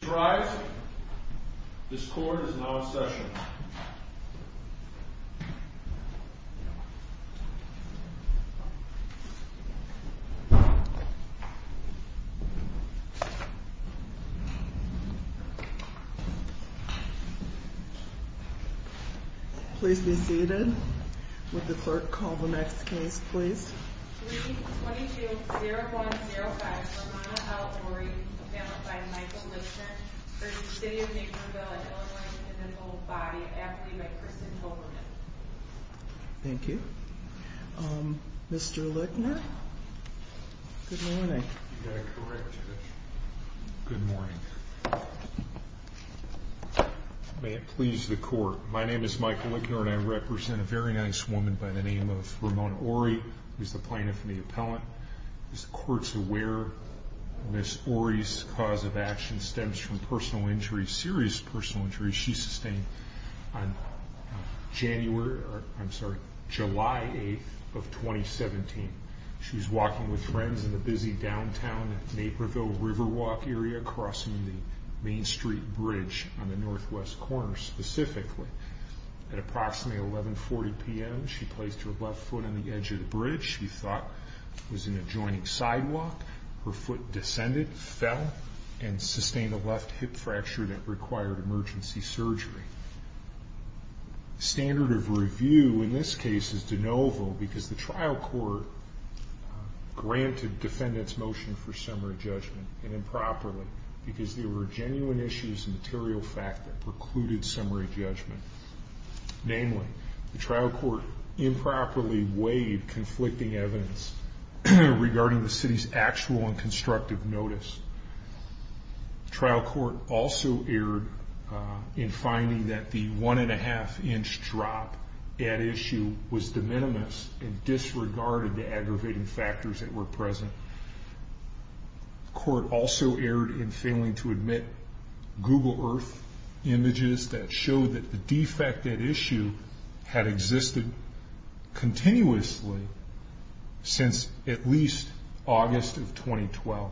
Drive, this court is now in session. Please be seated. Would the clerk call the next case, please? 3-22-0105, Ramona L. Ory, appellant by Michael Lichner, v. City of Naperville, Illinois, in an old body, aptly by Kristen Hoberman. Thank you. Um, Mr. Lichner? Good morning. You got it correct, Judge. Good morning. May it please the court, my name is Michael Lichner and I represent a very nice woman by the name of Ramona Ory, who is the plaintiff and the appellant. Is the court aware Ms. Ory's cause of action stems from personal injury, serious personal injury she sustained on January, I'm sorry, July 8th of 2017. She was walking with friends in the busy downtown Naperville Riverwalk area crossing the Main Street Bridge on the northwest corner specifically. At approximately 11.40 p.m. she placed her left foot on the edge of the bridge she thought was an adjoining sidewalk. Her foot descended, fell, and sustained a left hip fracture that required emergency surgery. The standard of review in this case is de novo because the trial court granted defendants motion for summary judgment, and improperly, because there were genuine issues and material fact that precluded summary judgment. Namely, the trial court improperly weighed conflicting evidence regarding the city's actual and constructive notice. The trial court also erred in finding that the one and a half inch drop at issue was de minimis and disregarded the aggravating factors that were present. The court also erred in failing to admit Google Earth images that showed that the defect at issue had existed continuously since at least August of 2012.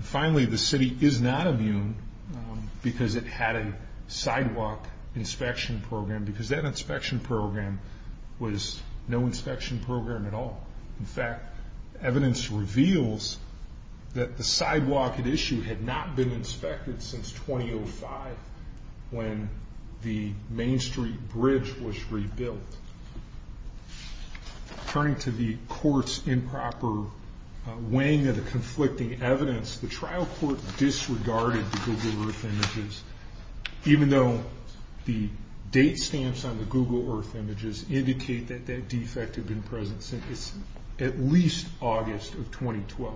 Finally, the city is not immune because it had a sidewalk inspection program because that inspection program was no inspection program at all. In fact, evidence reveals that the sidewalk at issue had not been inspected since 2005 when the Main Street Bridge was rebuilt. Turning to the court's improper weighing of the conflicting evidence, the trial court disregarded the Google Earth images, even though the date stamps on the Google Earth images indicate that that defect had been present since at least August of 2012.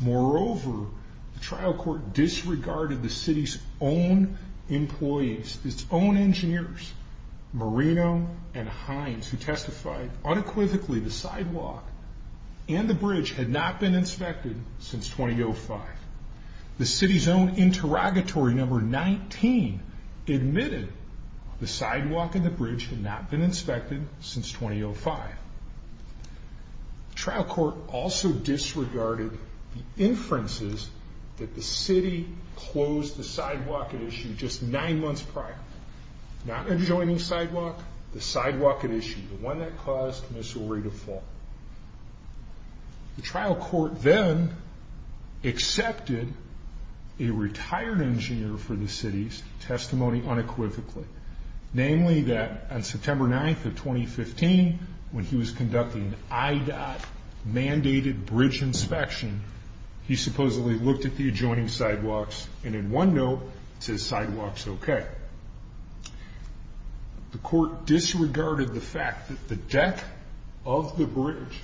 Moreover, the trial court disregarded the city's own employees, its own engineers, Marino and Hines, who testified unequivocally the sidewalk and the bridge had not been inspected since 2005. The city's own interrogatory number 19 admitted the sidewalk and the bridge had not been inspected since 2005. The trial court also disregarded the inferences that the city closed the sidewalk at issue just nine months prior. Not adjoining sidewalk, the sidewalk at issue, the one that caused Missouri to fall. The trial court then accepted a retired engineer for the city's testimony unequivocally, namely that on September 9th of 2015, when he was conducting an IDOT mandated bridge inspection, he supposedly looked at the adjoining sidewalks and in one note, it says sidewalks okay. The court disregarded the fact that the deck of the bridge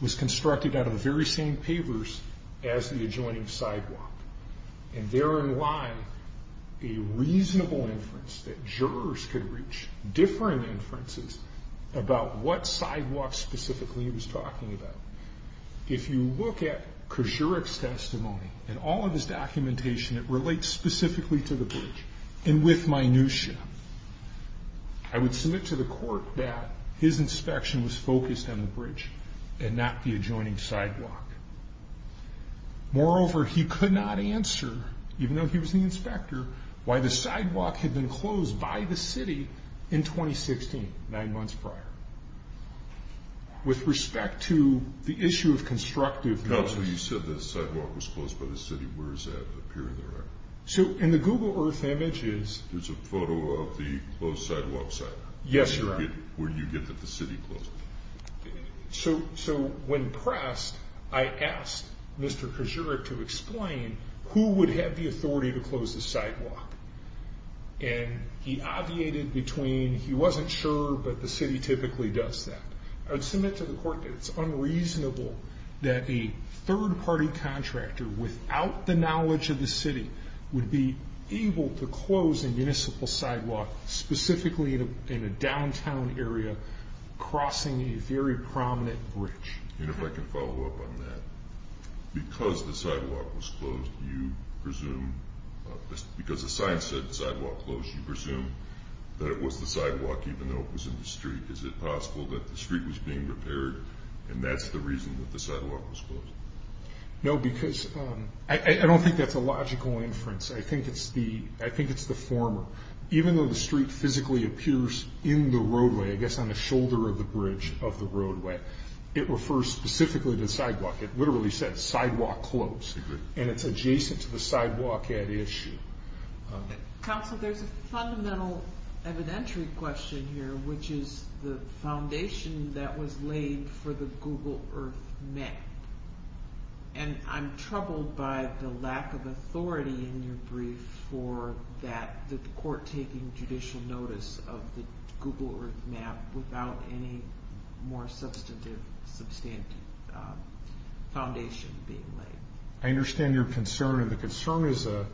was constructed out of the very same pavers as the adjoining sidewalk. Therein lies a reasonable inference that jurors could reach differing inferences about what sidewalk specifically he was talking about. If you look at Kozurek's testimony and all of his documentation, it relates specifically to the bridge and with minutia. I would submit to the court that his inspection was focused on the bridge and not the adjoining sidewalk. Moreover, he could not answer, even though he was the inspector, why the sidewalk had been closed by the city in 2016, nine months prior. With respect to the issue of constructive- Counsel, you said the sidewalk was closed by the city. Where is that appearing there? In the Google Earth images- There's a photo of the closed sidewalk site. Yes, Your Honor. Where do you get that the city closed it? When pressed, I asked Mr. Kozurek to explain who would have the authority to close the sidewalk. He obviated between he wasn't sure, but the city typically does that. I would submit to the court that it's unreasonable that a third-party contractor, without the knowledge of the city, would be able to close a municipal sidewalk, specifically in a downtown area, crossing a very prominent bridge. And if I can follow up on that, because the sidewalk was closed, you presume- Because the sign said sidewalk closed, you presume that it was the sidewalk, even though it was in the street. Is it possible that the street was being repaired and that's the reason that the sidewalk was closed? No, because I don't think that's a logical inference. I think it's the former. Even though the street physically appears in the roadway, I guess on the shoulder of the bridge of the roadway, it refers specifically to the sidewalk. It literally says sidewalk closed, and it's adjacent to the sidewalk at issue. Counsel, there's a fundamental evidentiary question here, which is the foundation that was laid for the Google Earth map. And I'm troubled by the lack of authority in your brief for the court taking judicial notice of the Google Earth map without any more substantive foundation being laid. I understand your concern, and the concern is a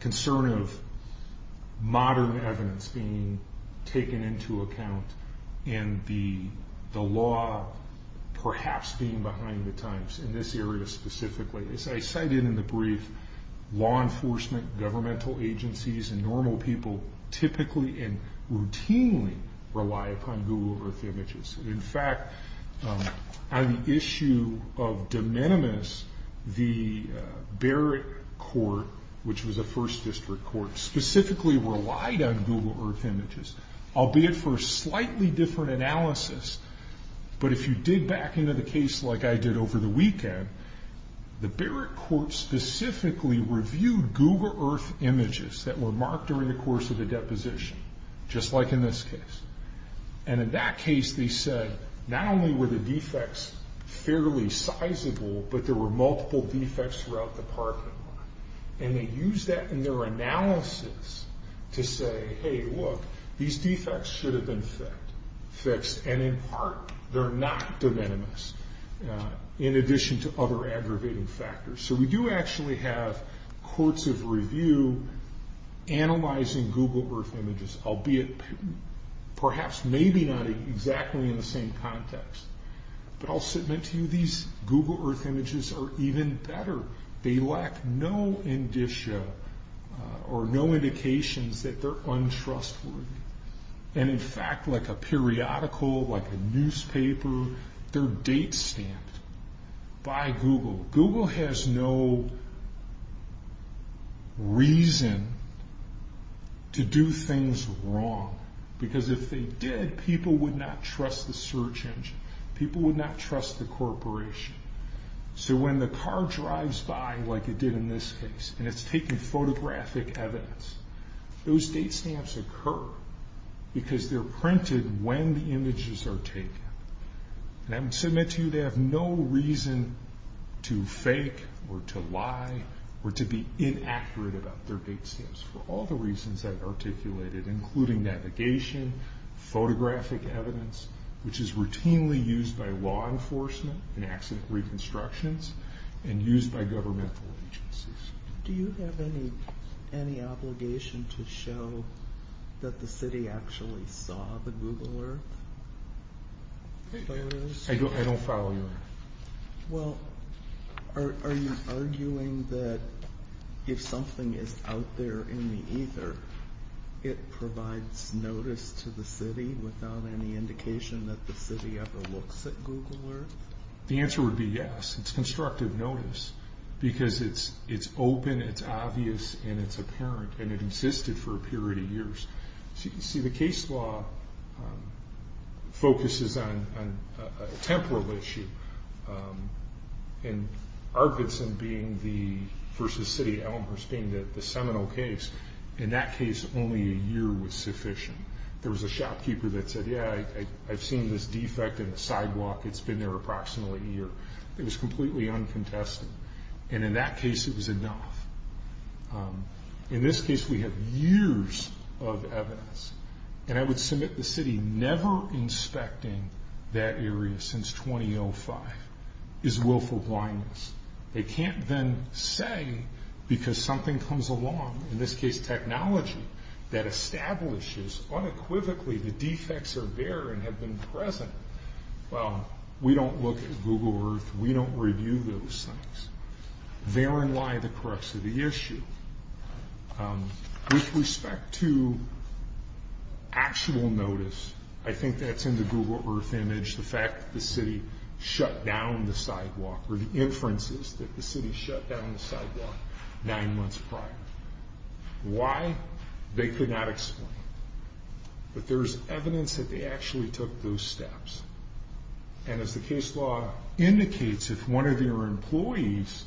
concern of modern evidence being taken into account and the law perhaps being behind the times in this area specifically. As I cited in the brief, law enforcement, governmental agencies, and normal people typically and routinely rely upon Google Earth images. In fact, on the issue of de minimis, the Barrett court, which was a first district court, specifically relied on Google Earth images, albeit for a slightly different analysis. But if you dig back into the case like I did over the weekend, the Barrett court specifically reviewed Google Earth images that were marked during the course of the deposition, just like in this case. And in that case, they said not only were the defects fairly sizable, but there were multiple defects throughout the parking lot. And they used that in their analysis to say, hey, look, these defects should have been fixed. And in part, they're not de minimis, in addition to other aggravating factors. So we do actually have courts of review analyzing Google Earth images, albeit perhaps maybe not exactly in the same context. But I'll submit to you these Google Earth images are even better. They lack no indicia or no indications that they're untrustworthy. And in fact, like a periodical, like a newspaper, they're date stamped by Google. Google has no reason to do things wrong, because if they did, people would not trust the search engine. People would not trust the corporation. So when the car drives by, like it did in this case, and it's taking photographic evidence, those date stamps occur because they're printed when the images are taken. And I would submit to you they have no reason to fake or to lie or to be inaccurate about their date stamps, for all the reasons I've articulated, including navigation, photographic evidence, which is routinely used by law enforcement in accident reconstructions and used by governmental agencies. Do you have any obligation to show that the city actually saw the Google Earth photos? I don't follow you on that. Well, are you arguing that if something is out there in the ether, it provides notice to the city without any indication that the city ever looks at Google Earth? The answer would be yes. It's constructive notice, because it's open, it's obvious, and it's apparent. And it existed for a period of years. So you can see the case law focuses on a temporal issue. And Arvidson versus City of Elmhurst being the seminal case, in that case, only a year was sufficient. There was a shopkeeper that said, yeah, I've seen this defect in the sidewalk. It's been there approximately a year. It was completely uncontested. And in that case, it was enough. In this case, we have years of evidence. And I would submit the city never inspecting that area since 2005 is willful blindness. They can't then say, because something comes along, in this case technology, that establishes unequivocally the defects are there and have been present. Well, we don't look at Google Earth. We don't review those things. Therein lie the crux of the issue. With respect to actual notice, I think that's in the Google Earth image, the fact that the city shut down the sidewalk, or the inferences that the city shut down the sidewalk nine months prior. Why? They could not explain. But there's evidence that they actually took those steps. And as the case law indicates, if one of your employees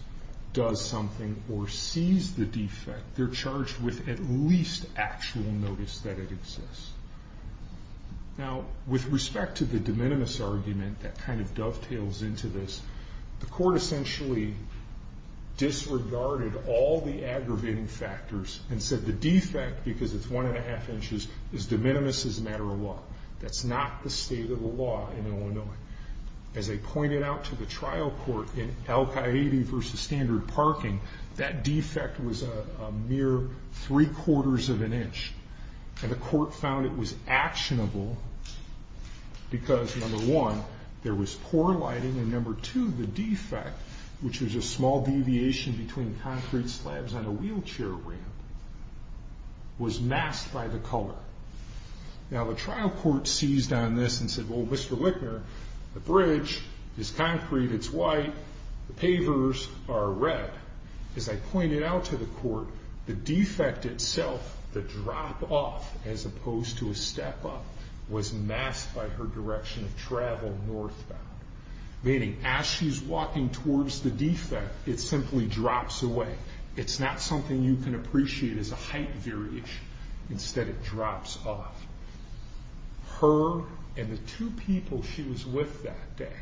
does something or sees the defect, they're charged with at least actual notice that it exists. Now, with respect to the de minimis argument that kind of dovetails into this, the court essentially disregarded all the aggravating factors and said the defect, because it's one-and-a-half inches, is de minimis as a matter of law. That's not the state of the law in Illinois. As they pointed out to the trial court in Al-Qaeda versus standard parking, that defect was a mere three-quarters of an inch. And the court found it was actionable because, number one, there was poor lighting, and number two, the defect, which was a small deviation between concrete slabs on a wheelchair ramp, was masked by the color. Now, the trial court seized on this and said, well, Mr. Lichtner, the bridge is concrete, it's white, the pavers are red. As I pointed out to the court, the defect itself, the drop-off, as opposed to a step-up, was masked by her direction of travel northbound. Meaning, as she's walking towards the defect, it simply drops away. It's not something you can appreciate as a height variation. Instead, it drops off. Her and the two people she was with that day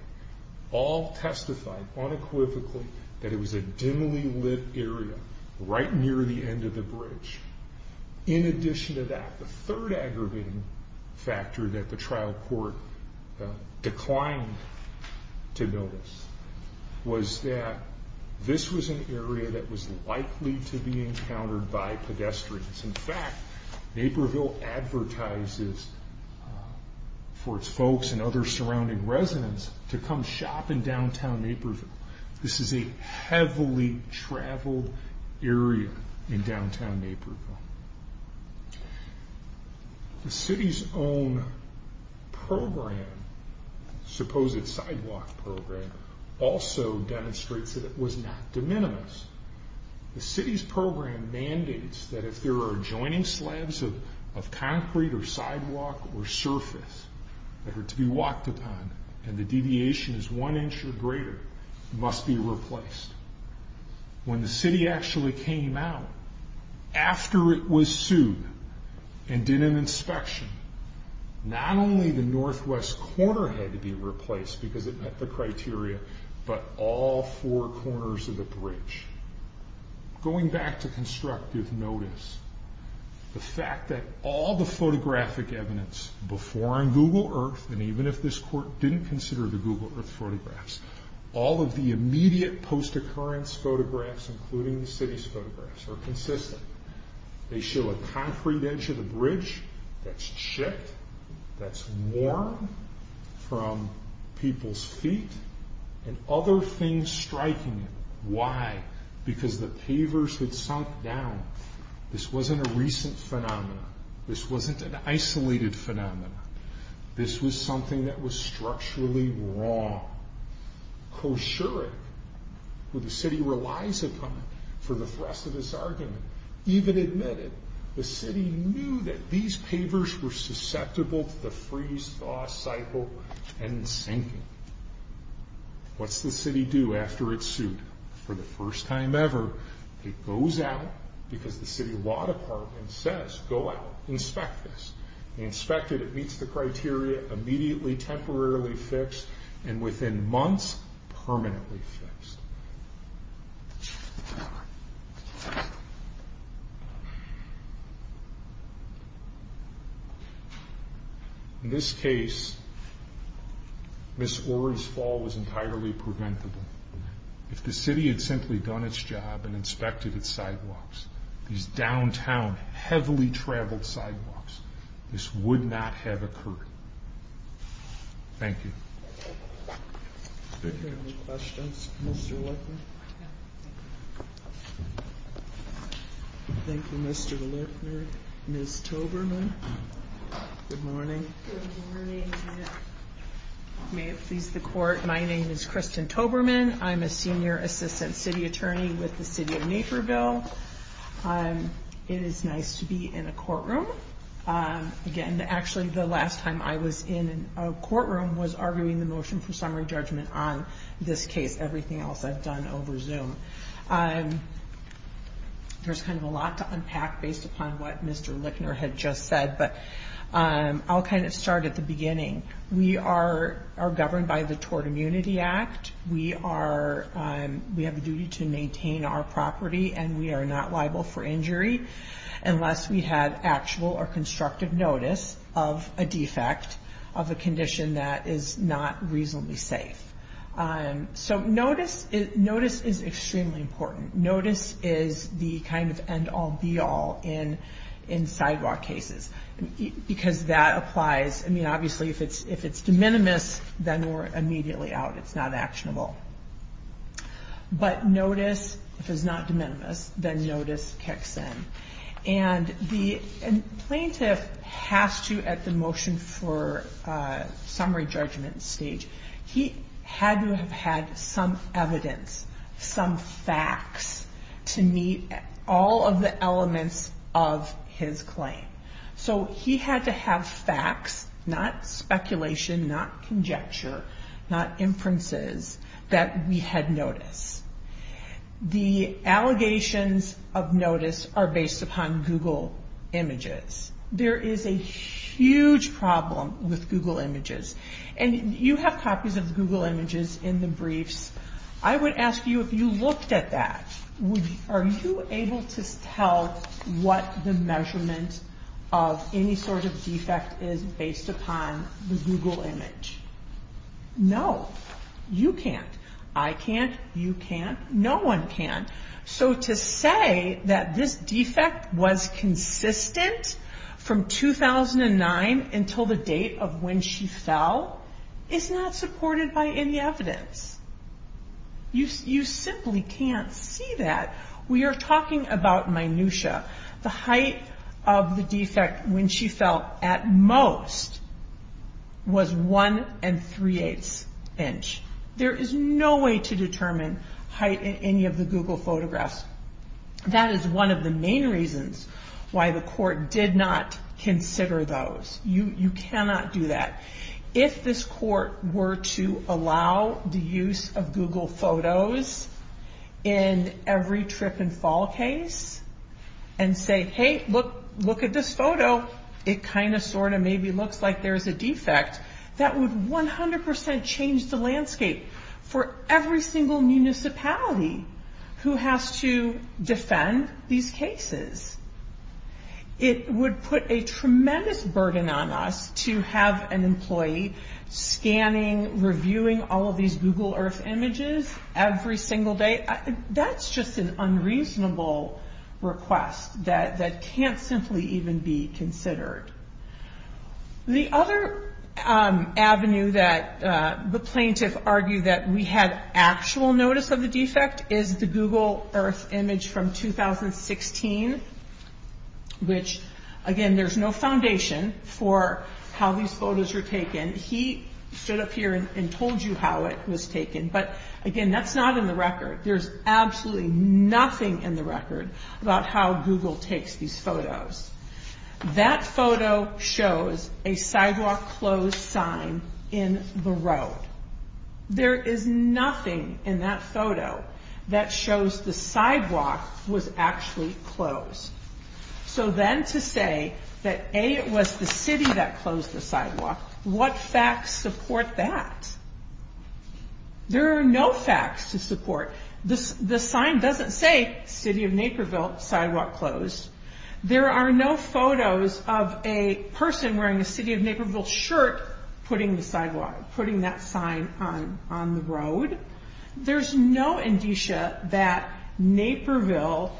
all testified unequivocally that it was a dimly-lit area right near the end of the bridge. In addition to that, the third aggravating factor that the trial court declined to notice was that this was an area that was likely to be encountered by pedestrians. In fact, Naperville advertises for its folks and other surrounding residents to come shop in downtown Naperville. This is a heavily-traveled area in downtown Naperville. The city's own program, supposed sidewalk program, also demonstrates that it was not de minimis. The city's program mandates that if there are adjoining slabs of concrete or sidewalk or surface that are to be walked upon and the deviation is one inch or greater, must be replaced. When the city actually came out after it was sued and did an inspection, not only the northwest corner had to be replaced because it met the criteria, but all four corners of the bridge. Going back to constructive notice, the fact that all the photographic evidence before on Google Earth, and even if this court didn't consider the Google Earth photographs, all of the immediate post-occurrence photographs, including the city's photographs, are consistent. They show a concrete edge of the bridge that's chipped, that's worn from people's feet, and other things striking it. Why? Because the pavers had sunk down. This wasn't a recent phenomenon. This wasn't an isolated phenomenon. This was something that was structurally wrong. Koshurik, who the city relies upon for the rest of this argument, even admitted the city knew that these pavers were susceptible to the freeze-thaw cycle and sinking. What's the city do after it's sued? For the first time ever, it goes out because the city law department says, go out, inspect this. They inspect it, it meets the criteria, immediately temporarily fixed, and within months, permanently fixed. In this case, Ms. Orr's fall was entirely preventable. If the city had simply done its job and inspected its sidewalks, these downtown, heavily-traveled sidewalks, this would not have occurred. Thank you. Are there any questions for Mr. Lichtner? No, thank you. Thank you, Mr. Lichtner. Ms. Toberman, good morning. Good morning. May it please the Court, my name is Kristin Toberman. I'm a senior assistant city attorney with the city of Naperville. It is nice to be in a courtroom. Again, actually, the last time I was in a courtroom was arguing the motion for summary judgment on this case. Everything else I've done over Zoom. There's kind of a lot to unpack based upon what Mr. Lichtner had just said, but I'll kind of start at the beginning. We are governed by the Tort Immunity Act. We have a duty to maintain our property, and we are not liable for injury unless we have actual or constructive notice of a defect, of a condition that is not reasonably safe. So notice is extremely important. Notice is the kind of end-all, be-all in sidewalk cases, because that applies. I mean, obviously, if it's de minimis, then we're immediately out. It's not actionable. But notice, if it's not de minimis, then notice kicks in. And the plaintiff has to, at the motion for summary judgment stage, he had to have had some evidence, some facts, to meet all of the elements of his claim. So he had to have facts, not speculation, not conjecture, not inferences, that we had notice. The allegations of notice are based upon Google Images. There is a huge problem with Google Images. And you have copies of Google Images in the briefs. I would ask you, if you looked at that, are you able to tell what the measurement of any sort of defect is based upon the Google Image? No. You can't. I can't. You can't. No one can. So to say that this defect was consistent from 2009 until the date of when she fell is not supported by any evidence. You simply can't see that. We are talking about minutia. The height of the defect when she fell, at most, was one and three-eighths inch. There is no way to determine height in any of the Google Photographs. That is one of the main reasons why the court did not consider those. You cannot do that. If this court were to allow the use of Google Photos in every trip and fall case, and say, hey, look at this photo, it kind of, sort of, maybe looks like there is a defect, that would 100% change the landscape for every single municipality who has to defend these cases. It would put a tremendous burden on us to have an employee scanning, reviewing all of these Google Earth images every single day. That's just an unreasonable request that can't simply even be considered. The other avenue that the plaintiff argued that we had actual notice of the defect is the Google Earth image from 2016, which, again, there's no foundation for how these photos were taken. He stood up here and told you how it was taken. But, again, that's not in the record. There's absolutely nothing in the record about how Google takes these photos. That photo shows a sidewalk closed sign in the road. There is nothing in that photo that shows the sidewalk was actually closed. So then to say that, A, it was the city that closed the sidewalk, what facts support that? There are no facts to support. The sign doesn't say, City of Naperville, sidewalk closed. There are no photos of a person wearing a City of Naperville shirt putting that sign on the road. There's no indicia that Naperville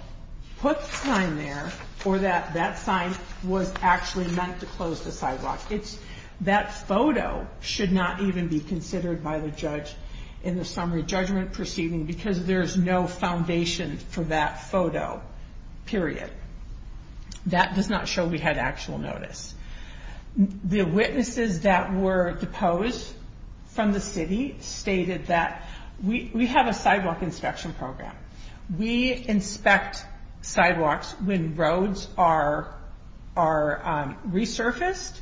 put the sign there or that that sign was actually meant to close the sidewalk. That photo should not even be considered by the judge in the summary judgment proceeding because there's no foundation for that photo, period. That does not show we had actual notice. The witnesses that were deposed from the city stated that we have a sidewalk inspection program. We inspect sidewalks when roads are resurfaced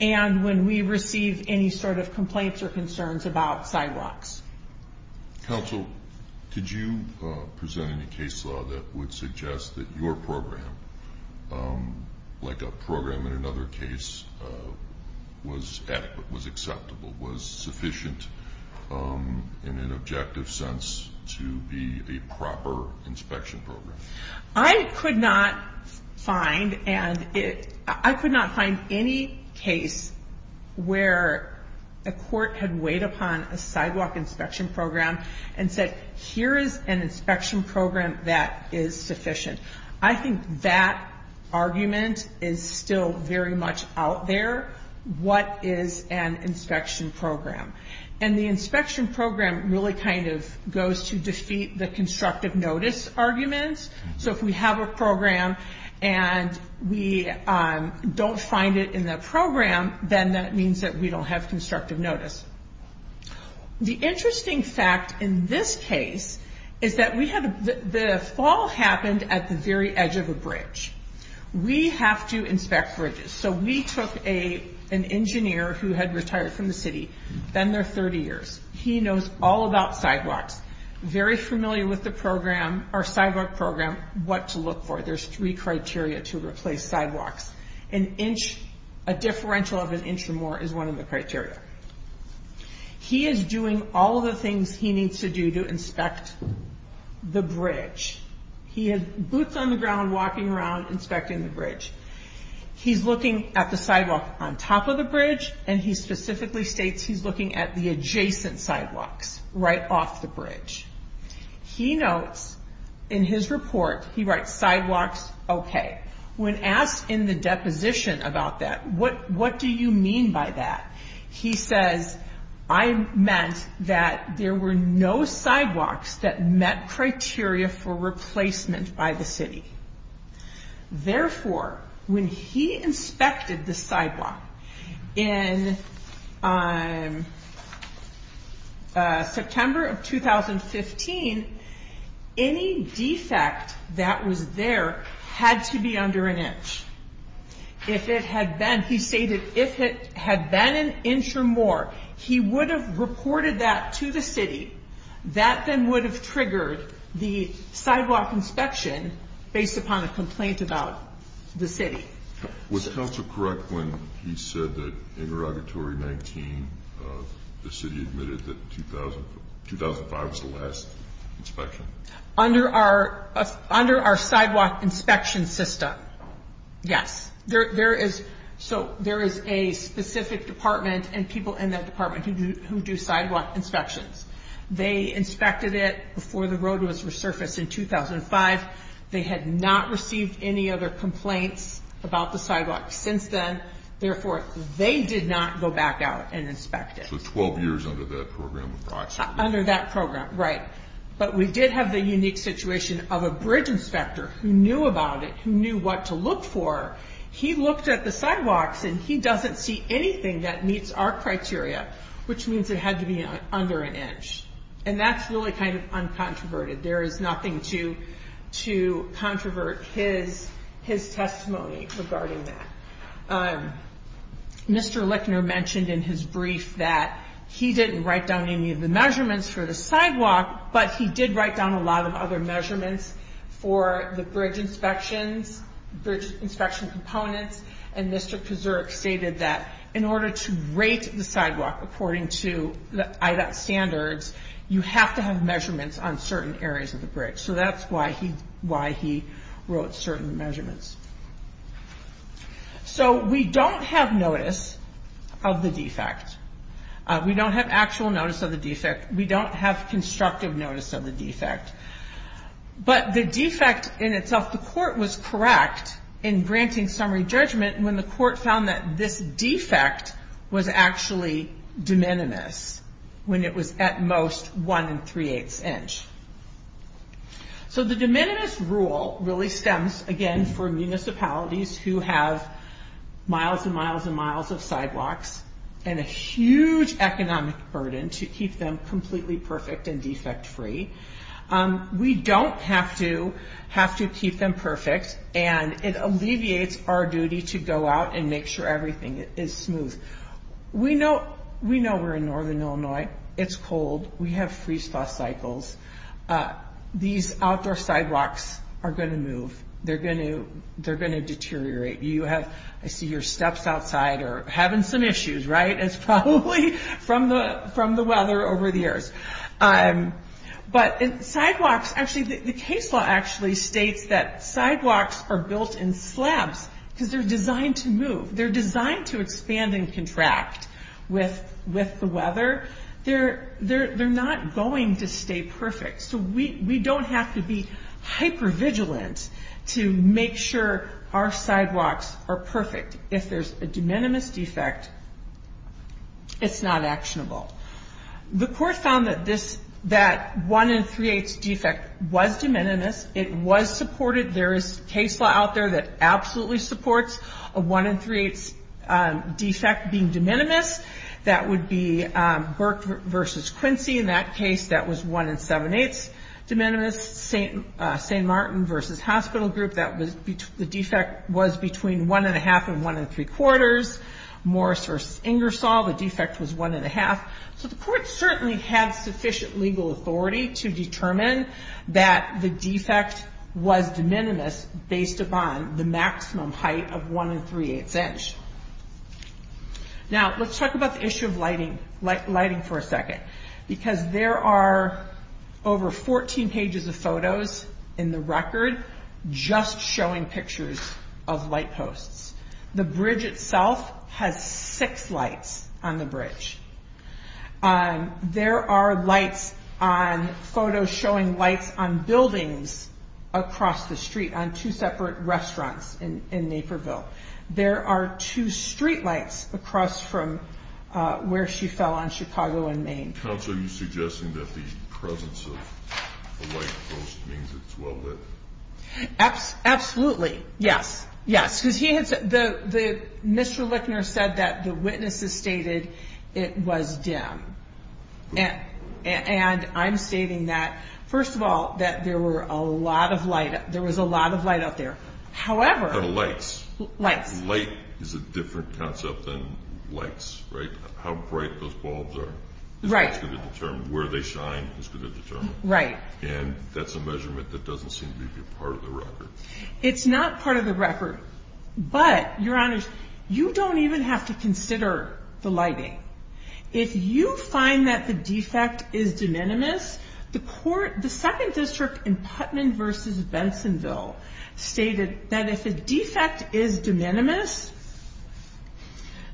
and when we receive any sort of complaints or concerns about sidewalks. Counsel, did you present any case law that would suggest that your program, like a program in another case, was adequate, was acceptable, was sufficient in an objective sense to be a proper inspection program? I could not find any case where a court had weighed upon a sidewalk inspection program and said, here is an inspection program that is sufficient. I think that argument is still very much out there. What is an inspection program? The inspection program really kind of goes to defeat the constructive notice arguments. If we have a program and we don't find it in the program, then that means that we don't have constructive notice. The interesting fact in this case is that the fall happened at the very edge of a bridge. We have to inspect bridges. We took an engineer who had retired from the city, been there 30 years. He knows all about sidewalks, very familiar with the program, our sidewalk program, what to look for. There's three criteria to replace sidewalks. A differential of an inch or more is one of the criteria. He is doing all of the things he needs to do to inspect the bridge. He has boots on the ground walking around inspecting the bridge. He's looking at the sidewalk on top of the bridge, and he specifically states he's looking at the adjacent sidewalks right off the bridge. He notes in his report, he writes, sidewalks, okay. When asked in the deposition about that, what do you mean by that? He says, I meant that there were no sidewalks that met criteria for replacement by the city. Therefore, when he inspected the sidewalk in September of 2015, any defect that was there had to be under an inch. He stated if it had been an inch or more, he would have reported that to the city. That then would have triggered the sidewalk inspection based upon a complaint about the city. Was counsel correct when he said that in Regulatory 19, the city admitted that 2005 was the last inspection? Under our sidewalk inspection system, yes. There is a specific department and people in that department who do sidewalk inspections. They inspected it before the road was resurfaced in 2005. They had not received any other complaints about the sidewalk since then. Therefore, they did not go back out and inspect it. So 12 years under that program approximately. Under that program, right. But we did have the unique situation of a bridge inspector who knew about it, who knew what to look for. He looked at the sidewalks and he doesn't see anything that meets our criteria, which means it had to be under an inch. That's really kind of uncontroverted. There is nothing to controvert his testimony regarding that. Mr. Lickner mentioned in his brief that he didn't write down any of the measurements for the sidewalk, but he did write down a lot of other measurements for the bridge inspections, bridge inspection components. And Mr. Pazuric stated that in order to rate the sidewalk according to the IDOT standards, you have to have measurements on certain areas of the bridge. So that's why he wrote certain measurements. So we don't have notice of the defect. We don't have actual notice of the defect. We don't have constructive notice of the defect. But the defect in itself, the court was correct in granting summary judgment when the court found that this defect was actually de minimis, when it was at most one and three-eighths inch. So the de minimis rule really stems, again, from municipalities who have miles and miles and miles of sidewalks and a huge economic burden to keep them completely perfect and defect-free. We don't have to keep them perfect, and it alleviates our duty to go out and make sure everything is smooth. We know we're in northern Illinois. It's cold. We have freeze-thaw cycles. These outdoor sidewalks are going to move. They're going to deteriorate. I see your steps outside are having some issues, right? It's probably from the weather over the years. But sidewalks, actually, the case law actually states that sidewalks are built in slabs because they're designed to move. They're designed to expand and contract with the weather. They're not going to stay perfect. So we don't have to be hyper-vigilant to make sure our sidewalks are perfect. If there's a de minimis defect, it's not actionable. The court found that that one and three-eighths defect was de minimis. It was supported. There is case law out there that absolutely supports a one and three-eighths defect being de minimis. That would be Burke v. Quincy. In that case, that was one and seven-eighths de minimis. St. Martin v. Hospital Group, the defect was between one and a half and one and three-quarters. Morris v. Ingersoll, the defect was one and a half. So the court certainly had sufficient legal authority to determine that the defect was de minimis based upon the maximum height of one and three-eighths inch. Now, let's talk about the issue of lighting for a second. Because there are over 14 pages of photos in the record just showing pictures of light posts. The bridge itself has six lights on the bridge. There are photos showing lights on buildings across the street on two separate restaurants in Naperville. There are two streetlights across from where she fell on Chicago and Maine. Counsel, are you suggesting that the presence of a light post means it's well lit? Absolutely. Yes. Yes. Because Mr. Lickner said that the witnesses stated it was dim. And I'm stating that, first of all, that there was a lot of light out there. However... A lot of lights. Lights. Light is a different concept than lights, right? How bright those bulbs are is what's going to determine. Where they shine is going to determine. Right. And that's a measurement that doesn't seem to be part of the record. It's not part of the record. But, Your Honors, you don't even have to consider the lighting. If you find that the defect is de minimis, the second district in Putnam v. Bensonville stated that if a defect is de minimis,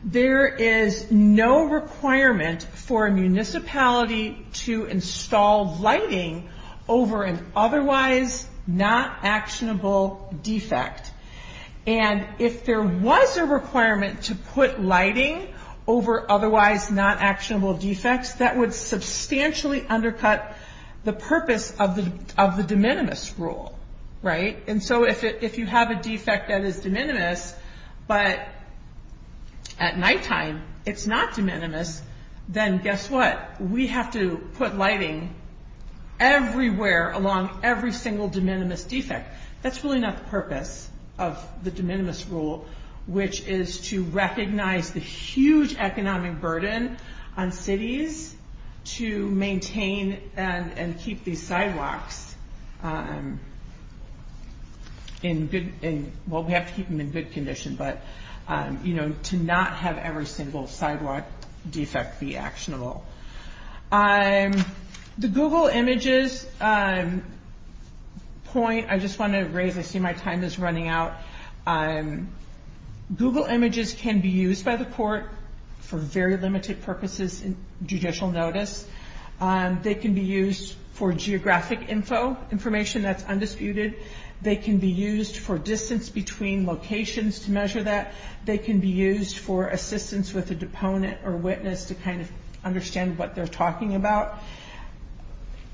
there is no requirement for a municipality to install lighting over an otherwise not actionable defect. And if there was a requirement to put lighting over otherwise not actionable defects, that would substantially undercut the purpose of the de minimis rule, right? And so if you have a defect that is de minimis, but at nighttime it's not de minimis, then guess what? We have to put lighting everywhere along every single de minimis defect. That's really not the purpose of the de minimis rule, which is to recognize the huge economic burden on cities to maintain and keep these sidewalks in good, well, we have to keep them in good condition, but to not have every single sidewalk defect be actionable. The Google Images point I just want to raise, I see my time is running out. Google Images can be used by the court for very limited purposes in judicial notice. They can be used for geographic info, information that's undisputed. They can be used for distance between locations to measure that. They can be used for assistance with a deponent or witness to kind of understand what they're talking about.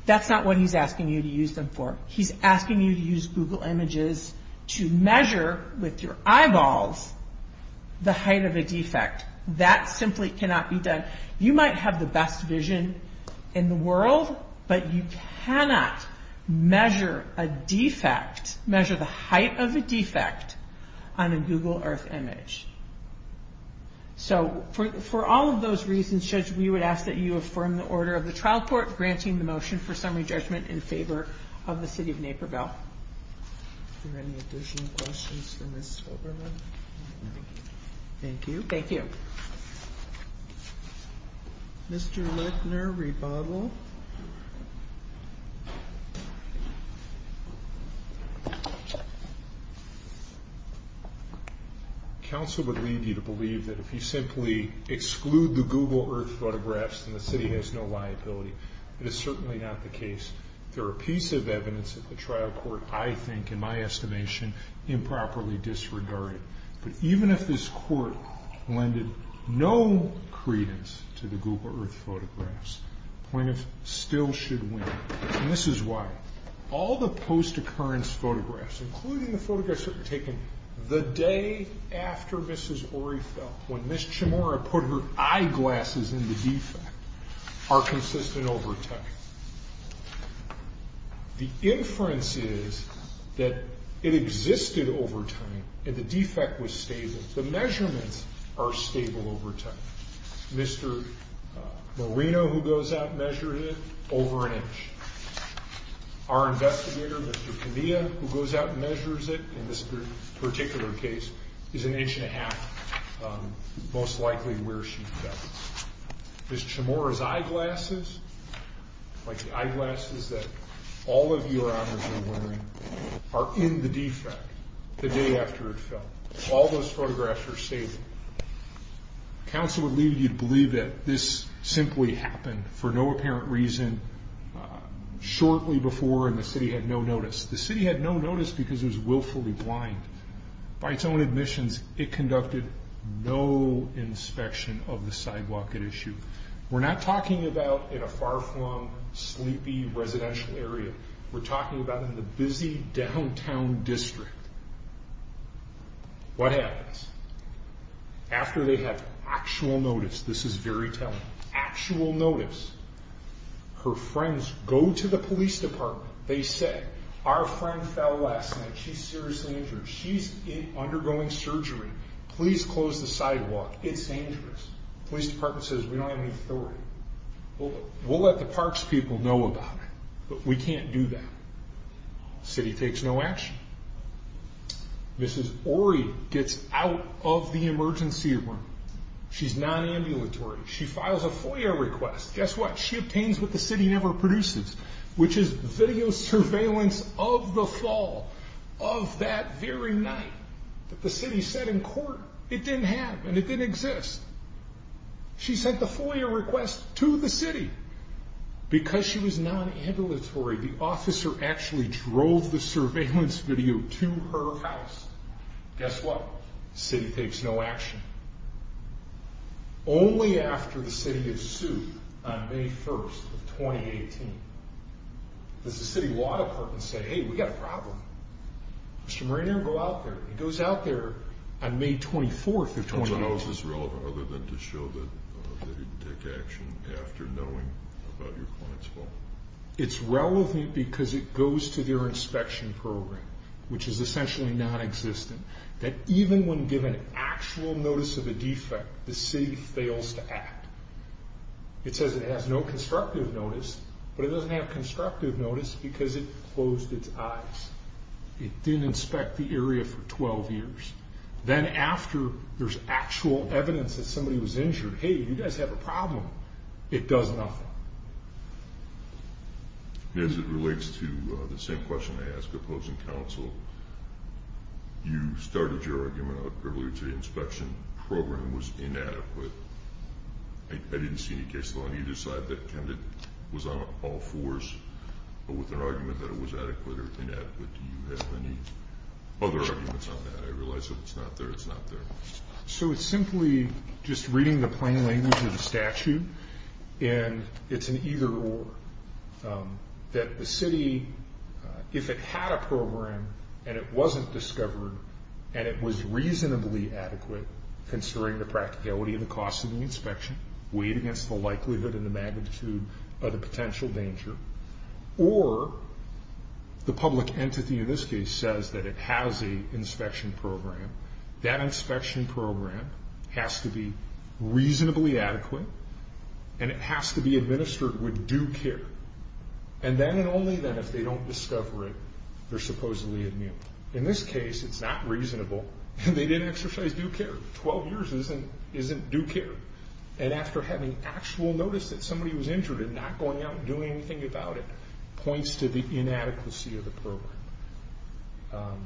That's not what he's asking you to use them for. He's asking you to use Google Images to measure with your eyeballs the height of a defect. That simply cannot be done. You might have the best vision in the world, but you cannot measure a defect, on a Google Earth image. So for all of those reasons, Judge, we would ask that you affirm the order of the trial court, granting the motion for summary judgment in favor of the city of Naperville. Are there any additional questions for Ms. Fogerman? Thank you. Thank you. Mr. Lettner, rebuttal. Counsel would lead you to believe that if you simply exclude the Google Earth photographs, then the city has no liability. That is certainly not the case. There are pieces of evidence that the trial court, I think, in my estimation, improperly disregarded. But even if this court lended no credence to the Google Earth photographs, plaintiffs still should win. And this is why all the post-occurrence photographs, including the photographs that were taken the day after Mrs. Orey fell, when Ms. Chimora put her eyeglasses in the defect, are consistent over time. The inference is that it existed over time and the defect was stable. The measurements are stable over time. Mr. Moreno, who goes out and measures it, over an inch. Our investigator, Mr. Kenia, who goes out and measures it in this particular case, is an inch and a half, most likely where she fell. Ms. Chimora's eyeglasses, like the eyeglasses that all of your honors are wearing, are in the defect the day after it fell. All those photographs are stable. Counsel would lead you to believe that this simply happened for no apparent reason shortly before and the city had no notice. The city had no notice because it was willfully blind. By its own admissions, it conducted no inspection of the sidewalk at issue. We're not talking about in a far-flung, sleepy residential area. We're talking about in the busy downtown district. What happens? After they have actual notice, this is very telling, actual notice, her friends go to the police department. They say, our friend fell last night. She's seriously injured. She's undergoing surgery. Please close the sidewalk. It's dangerous. The police department says, we don't have any authority. We'll let the parks people know about it, but we can't do that. The city takes no action. Mrs. Ori gets out of the emergency room. She's non-ambulatory. She files a FOIA request. Guess what? She obtains what the city never produces, which is video surveillance of the fall of that very night. The city said in court, it didn't happen. It didn't exist. She sent the FOIA request to the city because she was non-ambulatory. The officer actually drove the surveillance video to her house. Guess what? The city takes no action. Only after the city is sued on May 1st of 2018, does the city law department say, hey, we got a problem. Mr. Marino, go out there. He goes out there on May 24th of 2018. So how is this relevant other than to show that they didn't take action after knowing about your client's fall? It's relevant because it goes to their inspection program, which is essentially nonexistent, that even when given actual notice of a defect, the city fails to act. It says it has no constructive notice, but it doesn't have constructive notice because it closed its eyes. It didn't inspect the area for 12 years. Then after there's actual evidence that somebody was injured, hey, you guys have a problem, it does nothing. As it relates to the same question I asked opposing counsel, you started your argument earlier today, inspection program was inadequate. I didn't see any case law on either side that kind of was on all fours, but with an argument that it was adequate or inadequate. Do you have any other arguments on that? I realize that it's not there. It's not there. So it's simply just reading the plain language of the statute, and it's an either-or. That the city, if it had a program and it wasn't discovered, and it was reasonably adequate, considering the practicality of the cost of the inspection, weighed against the likelihood and the magnitude of the potential danger, or the public entity in this case says that it has an inspection program, that inspection program has to be reasonably adequate, and it has to be administered with due care. And then and only then, if they don't discover it, they're supposedly immune. In this case, it's not reasonable, and they didn't exercise due care. 12 years isn't due care. And after having actual notice that somebody was injured and not going out and doing anything about it, points to the inadequacy of the program.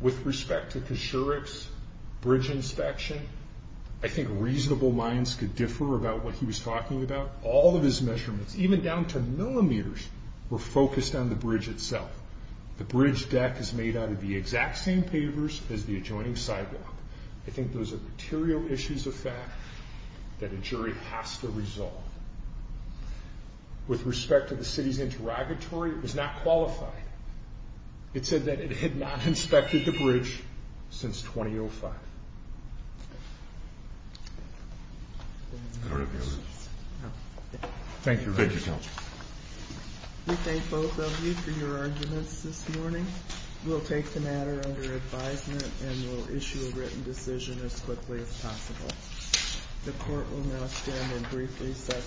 With respect to Kosherik's bridge inspection, I think reasonable minds could differ about what he was talking about. All of his measurements, even down to millimeters, were focused on the bridge itself. The bridge deck is made out of the exact same pavers as the adjoining sidewalk. I think those are material issues of fact that a jury has to resolve. With respect to the city's interrogatory, it was not qualified. It said that it had not inspected the bridge since 2005. Thank you. Thank you, counsel. We thank both of you for your arguments this morning. We'll take the matter under advisement and we'll issue a written decision as quickly as possible. The court will now stand and briefly session.